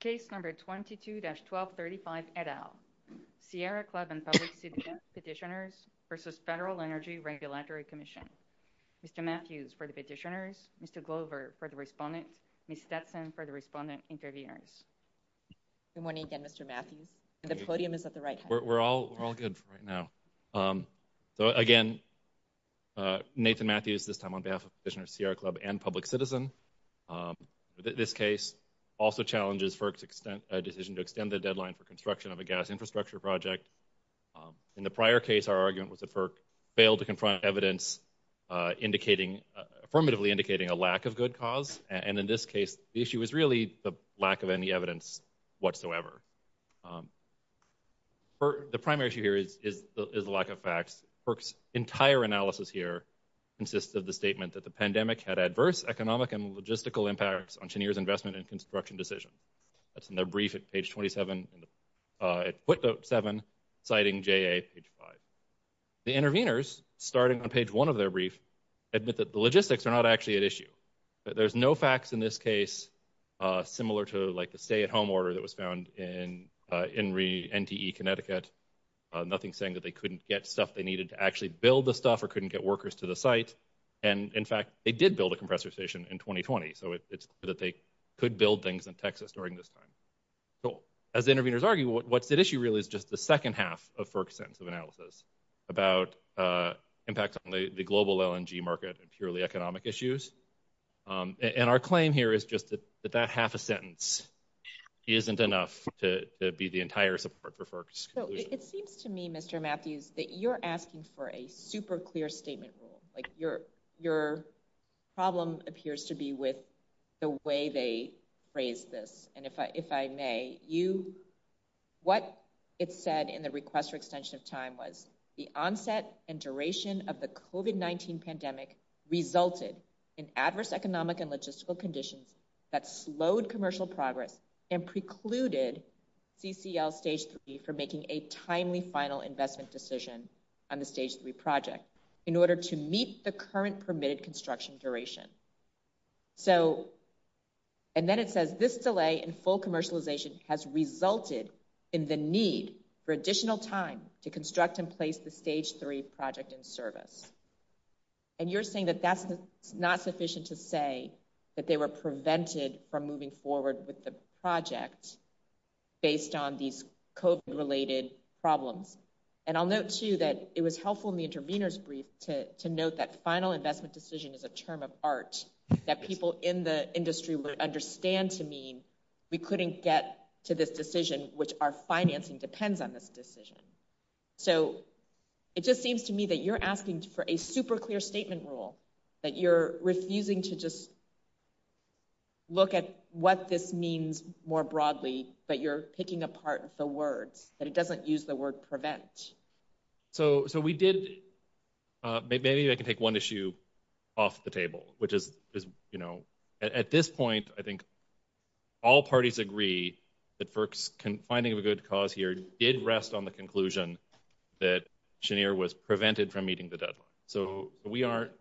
Case number 22-1235 et al. Sierra Club and Public Citizen Petitioners versus Federal Energy Regulatory Commission. Mr. Matthews for the petitioners, Mr. Glover for the respondent, Ms. Stetson for the respondent interviewers. Good morning again Mr. Matthews and the podium is at the right. We're all we're all good for right now. So again Nathan Matthews this time on behalf of Petitioners, Sierra Club and Public Citizen. This case also challenges FERC's extent a decision to extend the deadline for construction of a gas infrastructure project. In the prior case our argument was that FERC failed to confront evidence indicating affirmatively indicating a lack of good cause and in this case the issue is really the lack of any evidence whatsoever. The primary issue here is the lack of facts. FERC's entire analysis here consists of the statement that the pandemic had adverse economic and logistical impacts on Chenier's investment and construction decision. That's in their brief at page 27 at footnote 7 citing JA page 5. The interveners starting on page 1 of their brief admit that the logistics are not actually at issue. There's no facts in this case similar to like the stay at home order that was found in NTE Connecticut. Nothing saying that they couldn't get stuff they and in fact they did build a compressor station in 2020 so it's clear that they could build things in Texas during this time. So as the interveners argue what's at issue really is just the second half of FERC's sense of analysis about impact on the global LNG market and purely economic issues and our claim here is just that that half a sentence isn't enough to be the entire support for FERC. So it seems to me Mr. Matthews that you're asking for a super clear statement rule like your your problem appears to be with the way they phrase this and if I if I may you what it said in the request for extension of time was the onset and duration of the COVID-19 pandemic resulted in adverse economic and logistical conditions that slowed commercial progress and precluded CCL stage 3 for making a timely final investment decision on the stage 3 project in order to meet the current permitted construction duration. So and then it says this delay in full commercialization has resulted in the need for additional time to construct and place the stage three project in service and you're saying that that's not sufficient to say that they were prevented from moving forward with the project based on these COVID-related problems and I'll to note that final investment decision is a term of art that people in the industry would understand to mean we couldn't get to this decision which our financing depends on this decision. So it just seems to me that you're asking for a super clear statement rule that you're refusing to just look at what this means more broadly but you're picking apart the words that it doesn't use the word prevent. So we did maybe I can take one issue off the table which is you know at this point I think all parties agree that FERC's finding of a good cause here did rest on the conclusion that Chenier was prevented from meeting the deadline. So we aren't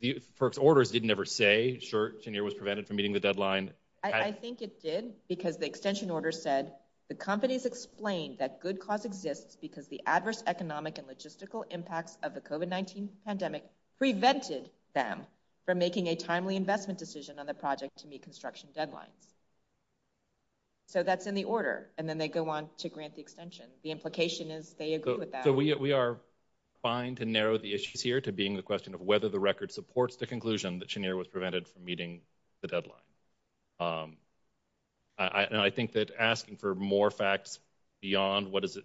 the FERC's orders didn't ever say sure Chenier was prevented from meeting the deadline. I think it did because the extension order said the companies explained that good cause exists because the adverse economic and logistical impacts of the COVID-19 pandemic prevented them from making a timely investment decision on the project to meet construction deadlines. So that's in the order and then they go on to grant the extension. The implication is they agree with that. So we are fine to narrow the issues here to being the question of whether the record supports the deadline. I think that asking for more facts beyond what is it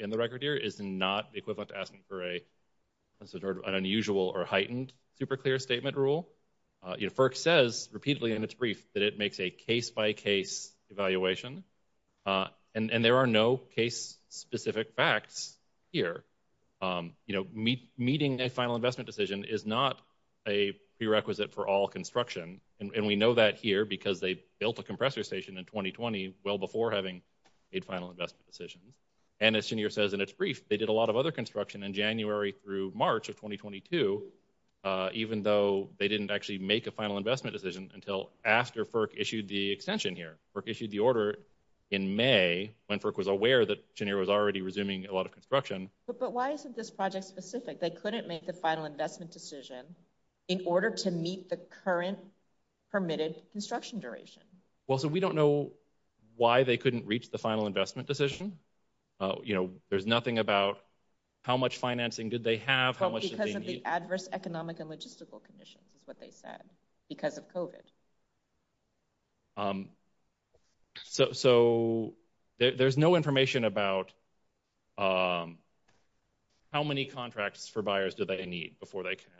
in the record here is not equivalent to asking for a sort of an unusual or heightened super clear statement rule. You know FERC says repeatedly in its brief that it makes a case-by-case evaluation and there are no case specific facts here. You know meeting a final investment decision is not a prerequisite for all construction and we know that here because they built a compressor station in 2020 well before having made final investment decisions. And as Chenier says in its brief they did a lot of other construction in January through March of 2022 even though they didn't actually make a final investment decision until after FERC issued the extension here. FERC issued the order in May when FERC was aware that Chenier was already resuming a lot of construction. But why isn't this project specific? They couldn't make the final investment decision in order to meet the current permitted construction duration. Well so we don't know why they couldn't reach the final investment decision. You know there's nothing about how much financing did they have how much because of the adverse economic and logistical conditions is what they said because of COVID. So there's no information about how many contracts for buyers do they need before they can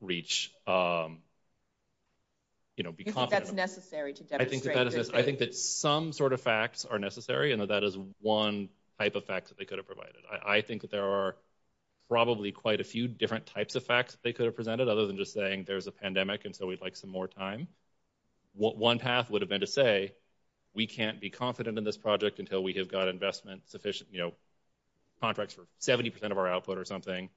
reach you know be confident. I think that some sort of facts are necessary and that is one type of fact that they could have provided. I think that there are probably quite a few different types of facts they could have presented other than just saying there's a pandemic and so we'd like some more time. What one path would have been to say we can't be confident in this project until we have got investment sufficient you know contracts for 70% of our output or something.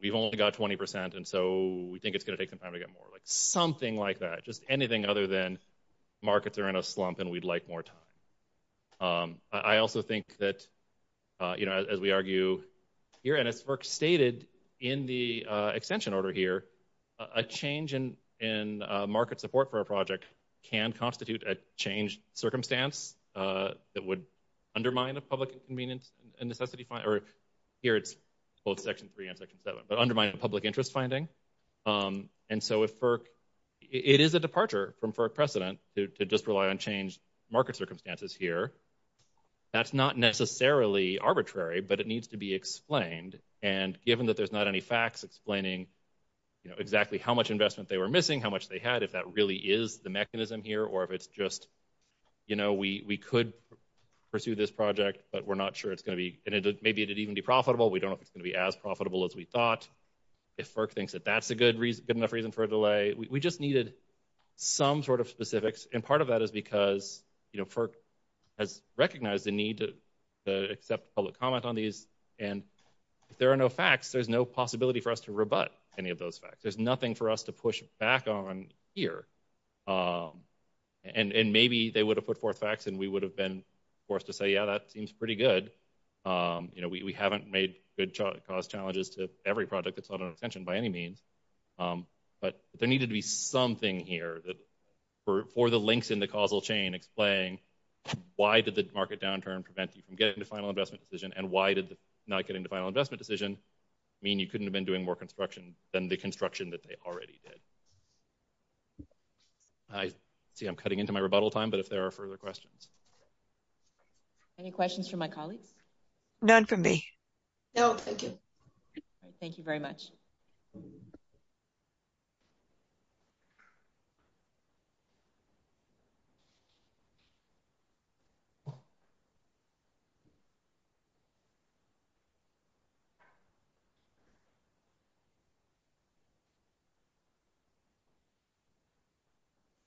We've only got 20% and so we think it's going to take some time to get more like something like that just anything other than markets are in a slump and we'd like more time. I also think that you know as we argue here and as FERC stated in the extension order here a change in market support for a project can constitute a changed circumstance that would undermine a public convenience and necessity fine or here it's both section 3 and section 7 but undermine a public interest finding. And so if FERC it is a departure from FERC precedent to just rely on changed market circumstances here that's not necessarily arbitrary but it needs to be explained and given that there's not any facts explaining you know exactly how much investment they were missing how much they had if that really is the mechanism here or if it's just you know we we could pursue this project but we're not sure it's going to be and maybe it'd even be profitable we don't know if it's going to be as profitable as we thought. If FERC thinks that that's a good reason good enough reason for a delay we just needed some sort of specifics and part of that is because you know FERC has recognized the need to accept public comment on these and if there are no facts there's no possibility for us to rebut any of those facts there's nothing for us to push back on here and and maybe they would have put forth facts and we would have been forced to say yeah that seems pretty good you know we haven't made good cause challenges to every project that's not an extension by any means but there needed to be something here that for for the links in the causal chain explaining why did the market downturn prevent you from getting the final investment decision mean you couldn't have been doing more construction than the construction that they already did. I see I'm cutting into my rebuttal time but if there are further questions. Any questions from my colleagues? None from me. No thank you. Thank you very much.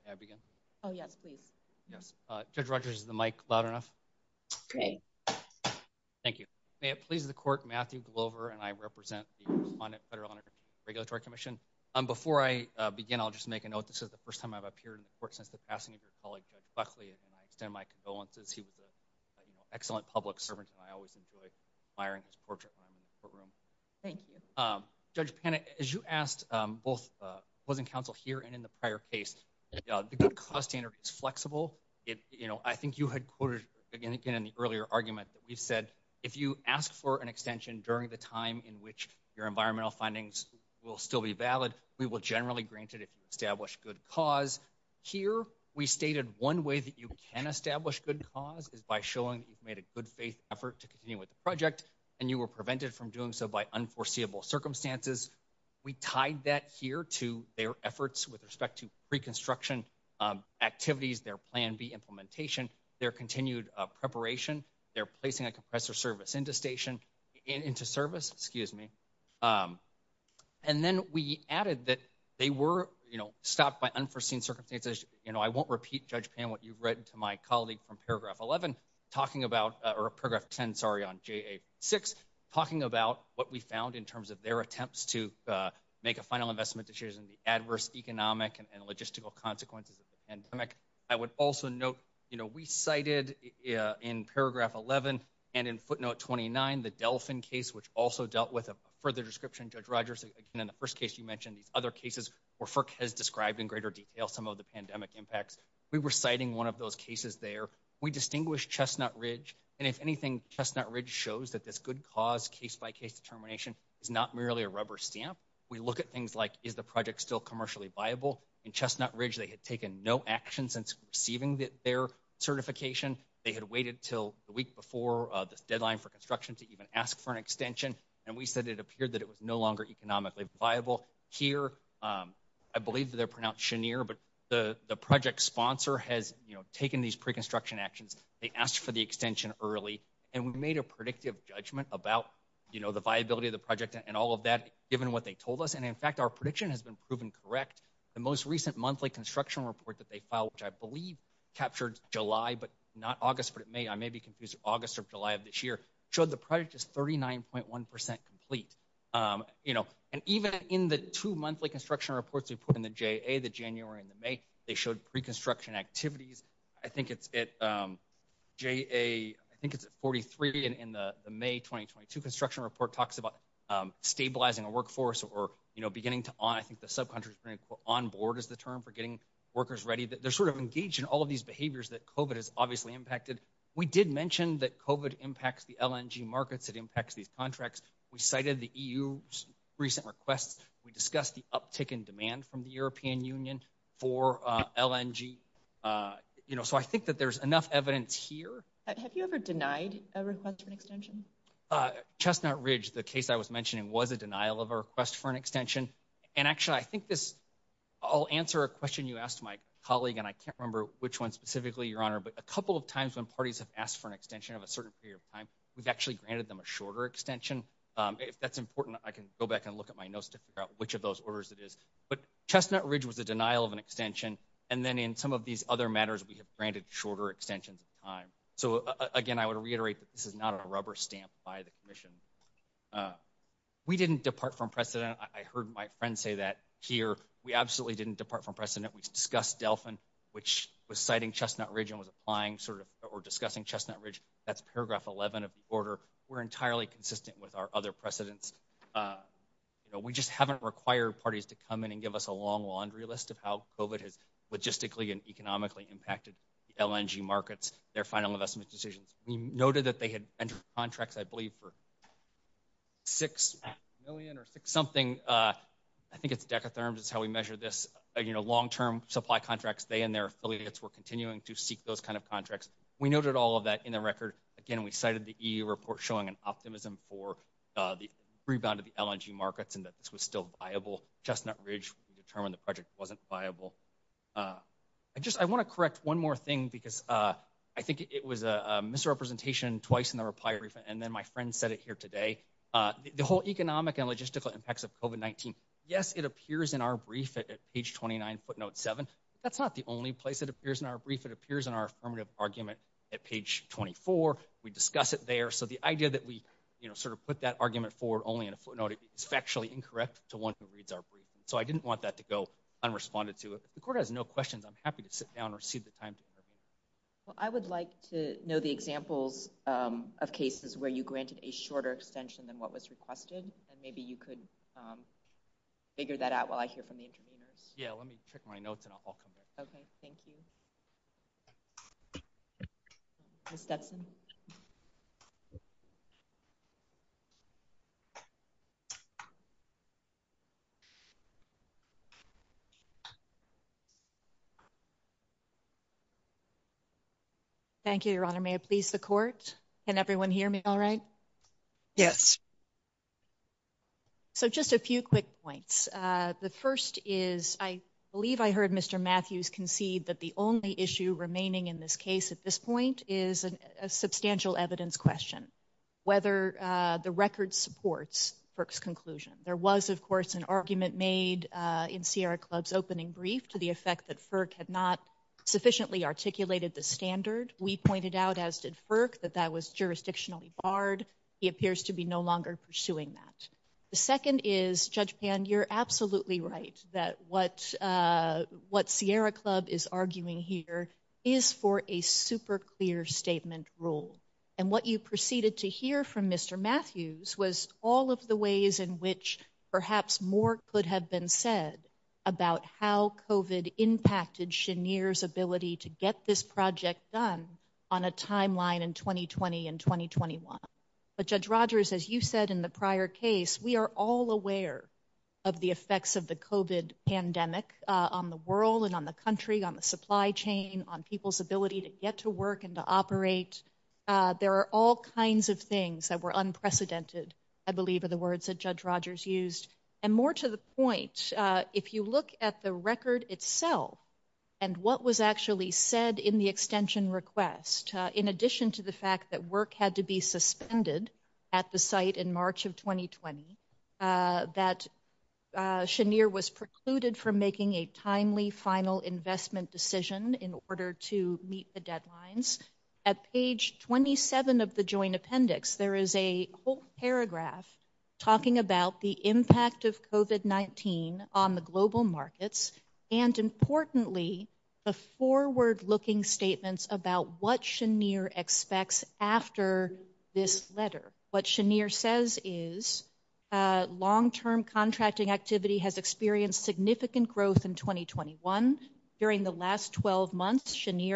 May I begin? Oh yes please. Yes. Judge Rogers is the mic loud enough? Great. Thank you. May it please the court Matthew Glover and I represent the Respondent Federal Under Regulatory Commission. Before I begin I'll just make a note this is the first time I've appeared in the court since the passing of your colleague Judge Buckley and I extend my condolences he was an excellent public servant and I always enjoy admiring his portrait when I'm in the courtroom. Thank you. Judge Pana as you asked both was in council here and in the prior case the good cause standard is flexible it you know I think you had quoted again again in the earlier argument that we've said if you ask for an extension during the time in which your environmental findings will still be valid we will generally grant it if you establish good cause. Here we stated one way that you can establish good cause is by showing that you've made a good faith effort to continue with the project and you were prevented from doing so by unforeseeable circumstances. We tied that here to their efforts with respect to pre-construction activities their plan b implementation their continued preparation they're placing a compressor service into station into service excuse me and then we added that they were you know stopped by unforeseen circumstances you know I won't repeat Judge Pana what you've read to my colleague from paragraph 11 talking about or paragraph 10 sorry on JA6 talking about what we found in terms of their attempts to make a final investment decisions in the adverse economic and logistical consequences of the pandemic. I would also note you know we cited in paragraph 11 and in footnote 29 the Delphin case which also dealt with a further description Judge Rogers again in the first case you mentioned these other cases where FERC has those cases there we distinguish Chestnut Ridge and if anything Chestnut Ridge shows that this good cause case-by-case determination is not merely a rubber stamp we look at things like is the project still commercially viable in Chestnut Ridge they had taken no action since receiving that their certification they had waited till the week before the deadline for construction to even ask for an extension and we said it appeared that it was no longer economically viable here I believe they're pronounced chenier but the the project sponsor has you know taken these pre-construction actions they asked for the extension early and we made a predictive judgment about you know the viability of the project and all of that given what they told us and in fact our prediction has been proven correct the most recent monthly construction report that they filed which I believe captured July but not August but it may I may be confused August or July of this showed the project is 39.1 percent complete you know and even in the two monthly construction reports we put in the JA the January and the May they showed pre-construction activities I think it's at JA I think it's at 43 and in the May 2022 construction report talks about stabilizing a workforce or you know beginning to on I think the subcontractor on board is the term for getting workers ready that they're sort of engaged in all of these behaviors that COVID has obviously impacted we did mention that COVID impacts the LNG markets it impacts these contracts we cited the EU's recent requests we discussed the uptick in demand from the European Union for LNG you know so I think that there's enough evidence here have you ever denied a request for an extension Chestnut Ridge the case I was mentioning was a denial of a request for an extension and actually I think this I'll answer a question you asked my colleague and I can't remember which one specifically your honor but a couple of times when parties have asked for an extension of a certain period of time we've actually granted them a shorter extension if that's important I can go back and look at my notes to figure out which of those orders it is but Chestnut Ridge was a denial of an extension and then in some of these other matters we have granted shorter extensions of time so again I would reiterate that this is not a rubber stamp by the commission we didn't depart from precedent I heard my friend say that here we absolutely didn't depart from precedent we discussed Delphin which was citing Chestnut Ridge and was applying sort of or discussing Chestnut Ridge that's paragraph 11 of the order we're entirely consistent with our other precedents uh you know we just haven't required parties to come in and give us a long laundry list of how COVID has logistically and economically impacted the LNG markets their final investment decisions we noted that they had contracts I believe for six million or six something uh I think it's is how we measure this you know long-term supply contracts they and their affiliates were continuing to seek those kind of contracts we noted all of that in the record again we cited the EU report showing an optimism for uh the rebound of the LNG markets and that this was still viable Chestnut Ridge we determined the project wasn't viable uh I just I want to correct one more thing because uh I think it was a misrepresentation twice in the reply and then my friend said it here today uh the whole economic and logistical impacts of COVID-19 yes it appears in our brief at page 29 footnote 7 that's not the only place it appears in our brief it appears in our affirmative argument at page 24 we discuss it there so the idea that we you know sort of put that argument forward only in a footnote is factually incorrect to one who reads our briefing so I didn't want that to go unresponded to it the court has no questions I'm happy to sit down and receive the time well I would like to know the examples um of cases where you granted a shorter extension than what was requested and maybe you could um figure that out while I hear from the interveners yeah let me check my notes and I'll come back okay thank you Miss Stetson thank you your honor may I please the court can everyone hear me all right yes so just a few quick points uh the first is I believe I heard Mr. Matthews concede that the only issue remaining in this case at this point is a substantial evidence question whether uh the record supports FERC's conclusion there was of course an argument made uh in Sierra Club's to the effect that FERC had not sufficiently articulated the standard we pointed out as did FERC that that was jurisdictionally barred he appears to be no longer pursuing that the second is Judge Pan you're absolutely right that what uh what Sierra Club is arguing here is for a super clear statement rule and what you proceeded to hear from Mr. Matthews was all of the ways in which perhaps more could have been said about how COVID impacted Chenier's ability to get this project done on a timeline in 2020 and 2021 but Judge Rogers as you said in the prior case we are all aware of the effects of the COVID pandemic uh on the world and on the country on the supply chain on people's ability to get to work and to operate uh there are all kinds of things that were unprecedented I believe are the words that Judge Rogers used and more to the point uh if you look at the record itself and what was actually said in the extension request in addition to the fact that work had to be suspended at the site in March of 2020 uh that uh Chenier was precluded from making a timely final investment decision in order to meet the deadlines at page 27 of the joint appendix there is a whole paragraph talking about the impact of COVID-19 on the global markets and importantly the forward-looking statements about what Chenier expects after this letter what Chenier says is uh long-term Chenier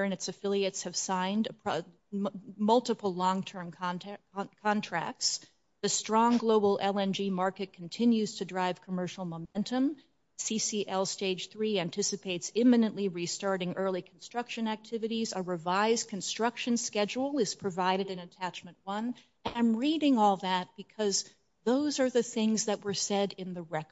and its affiliates have signed multiple long-term contact contracts the strong global LNG market continues to drive commercial momentum CCL stage three anticipates imminently restarting early construction activities a revised construction schedule is provided in attachment one I'm reading all that because those are the things that were said in the record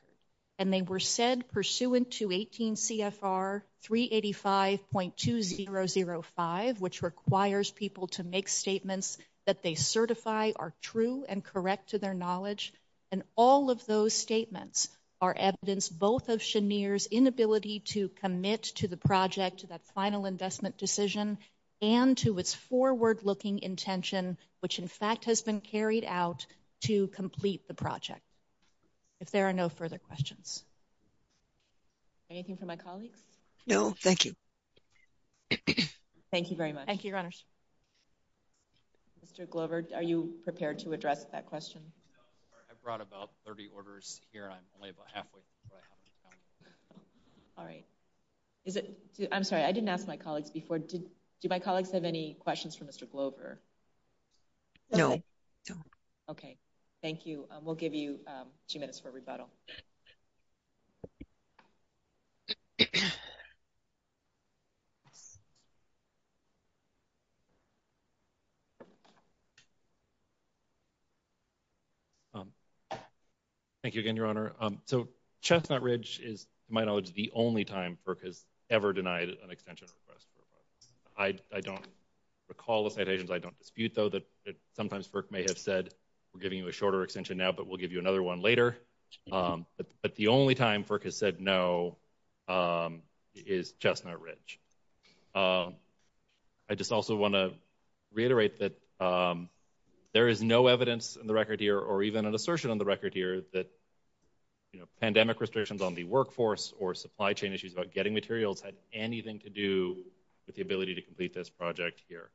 and they were said pursuant to 18 CFR 385.2005 which requires people to make statements that they certify are true and correct to their knowledge and all of those statements are evidence both of Chenier's inability to commit to the project to that final investment decision and to its forward-looking intention which in fact has been carried out to complete the project if there are no further questions anything from my colleagues no thank you thank you very much thank you your honor Mr. Glover are you prepared to address that question I brought about 30 orders here I'm only about halfway all right is it I'm sorry I didn't ask my colleagues before did do my colleagues have any questions for Mr. Glover no okay thank you we'll give you two minutes for questions thank you again your honor so Chestnut Ridge is my knowledge the only time FERC has ever denied an extension request I don't recall the citations I don't dispute though that sometimes FERC may have said we're giving you a shorter extension now but we'll give you another one later but the only time FERC has said no is Chestnut Ridge I just also want to reiterate that there is no evidence in the record here or even an assertion on the record here that you know pandemic restrictions on the workforce or supply chain issues about getting materials had anything to do with the ability to complete this project here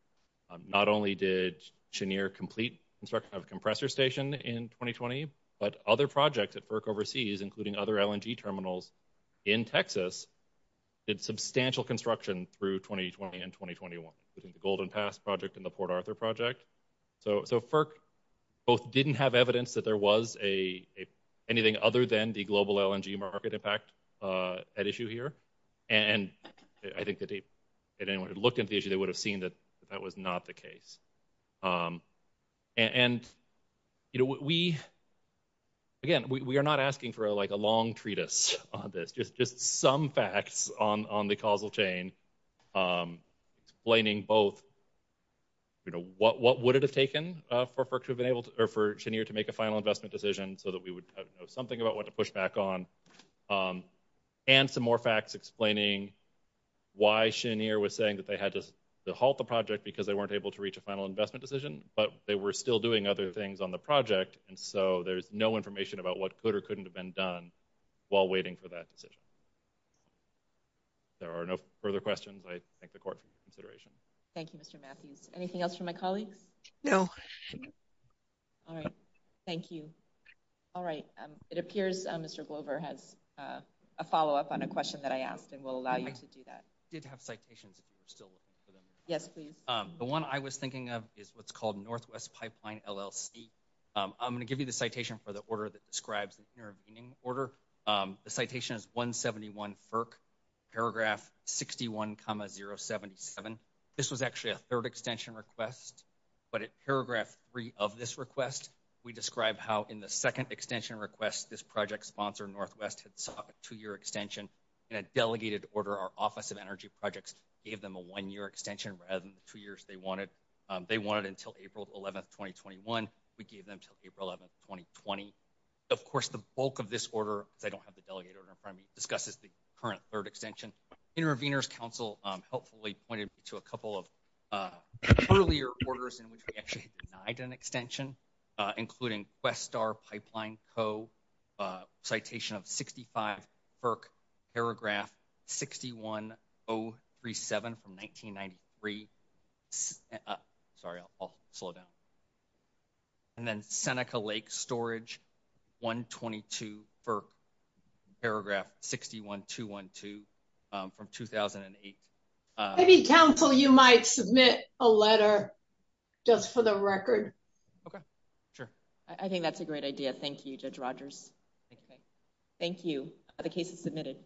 not only did Chenier complete construction of a compressor station in 2020 but other projects that FERC oversees including other LNG terminals in Texas did substantial construction through 2020 and 2021 including the Golden Pass project and the Port Arthur project so so FERC both didn't have evidence that there was a anything other than the global LNG market impact at issue here and I think that they they didn't want to look into the issue they would have seen that that was not the case and you know we again we are not asking for like a long treatise on this just just some facts on on the causal chain explaining both you know what what would it have taken for FERC to have been able to or for Chenier to make a final investment decision so that we would know about what to push back on and some more facts explaining why Chenier was saying that they had just to halt the project because they weren't able to reach a final investment decision but they were still doing other things on the project and so there's no information about what could or couldn't have been done while waiting for that decision there are no further questions I thank the court for consideration thank you Mr. Matthews anything else for my colleagues no all right thank you all right it appears Mr. Glover has a follow-up on a question that I asked and will allow you to do that did have citations if you're still looking for them yes please the one I was thinking of is what's called Northwest Pipeline LLC I'm going to give you the citation for the order that describes the intervening order the citation is 171 FERC paragraph 61 comma 077 this was actually a third extension request but at paragraph three of this request we describe how in the second extension request this project sponsor Northwest had sought a two-year extension in a delegated order our office of energy projects gave them a one-year extension rather than the two years they wanted they wanted until April 11th 2021 we gave them till April 11th 2020 of course the bulk of this order because I don't have the delegate order in front of me discusses the current third extension interveners council helpfully pointed to a couple of earlier orders in which we actually denied an extension including quest star pipeline co citation of 65 FERC paragraph 61037 from 1993 uh sorry I'll slow down and then Seneca Lake storage 122 FERC paragraph 61212 from 2008 maybe council you might submit a letter just for the record okay sure I think that's a great idea thank you Judge Rogers thank you thank you are the cases submitted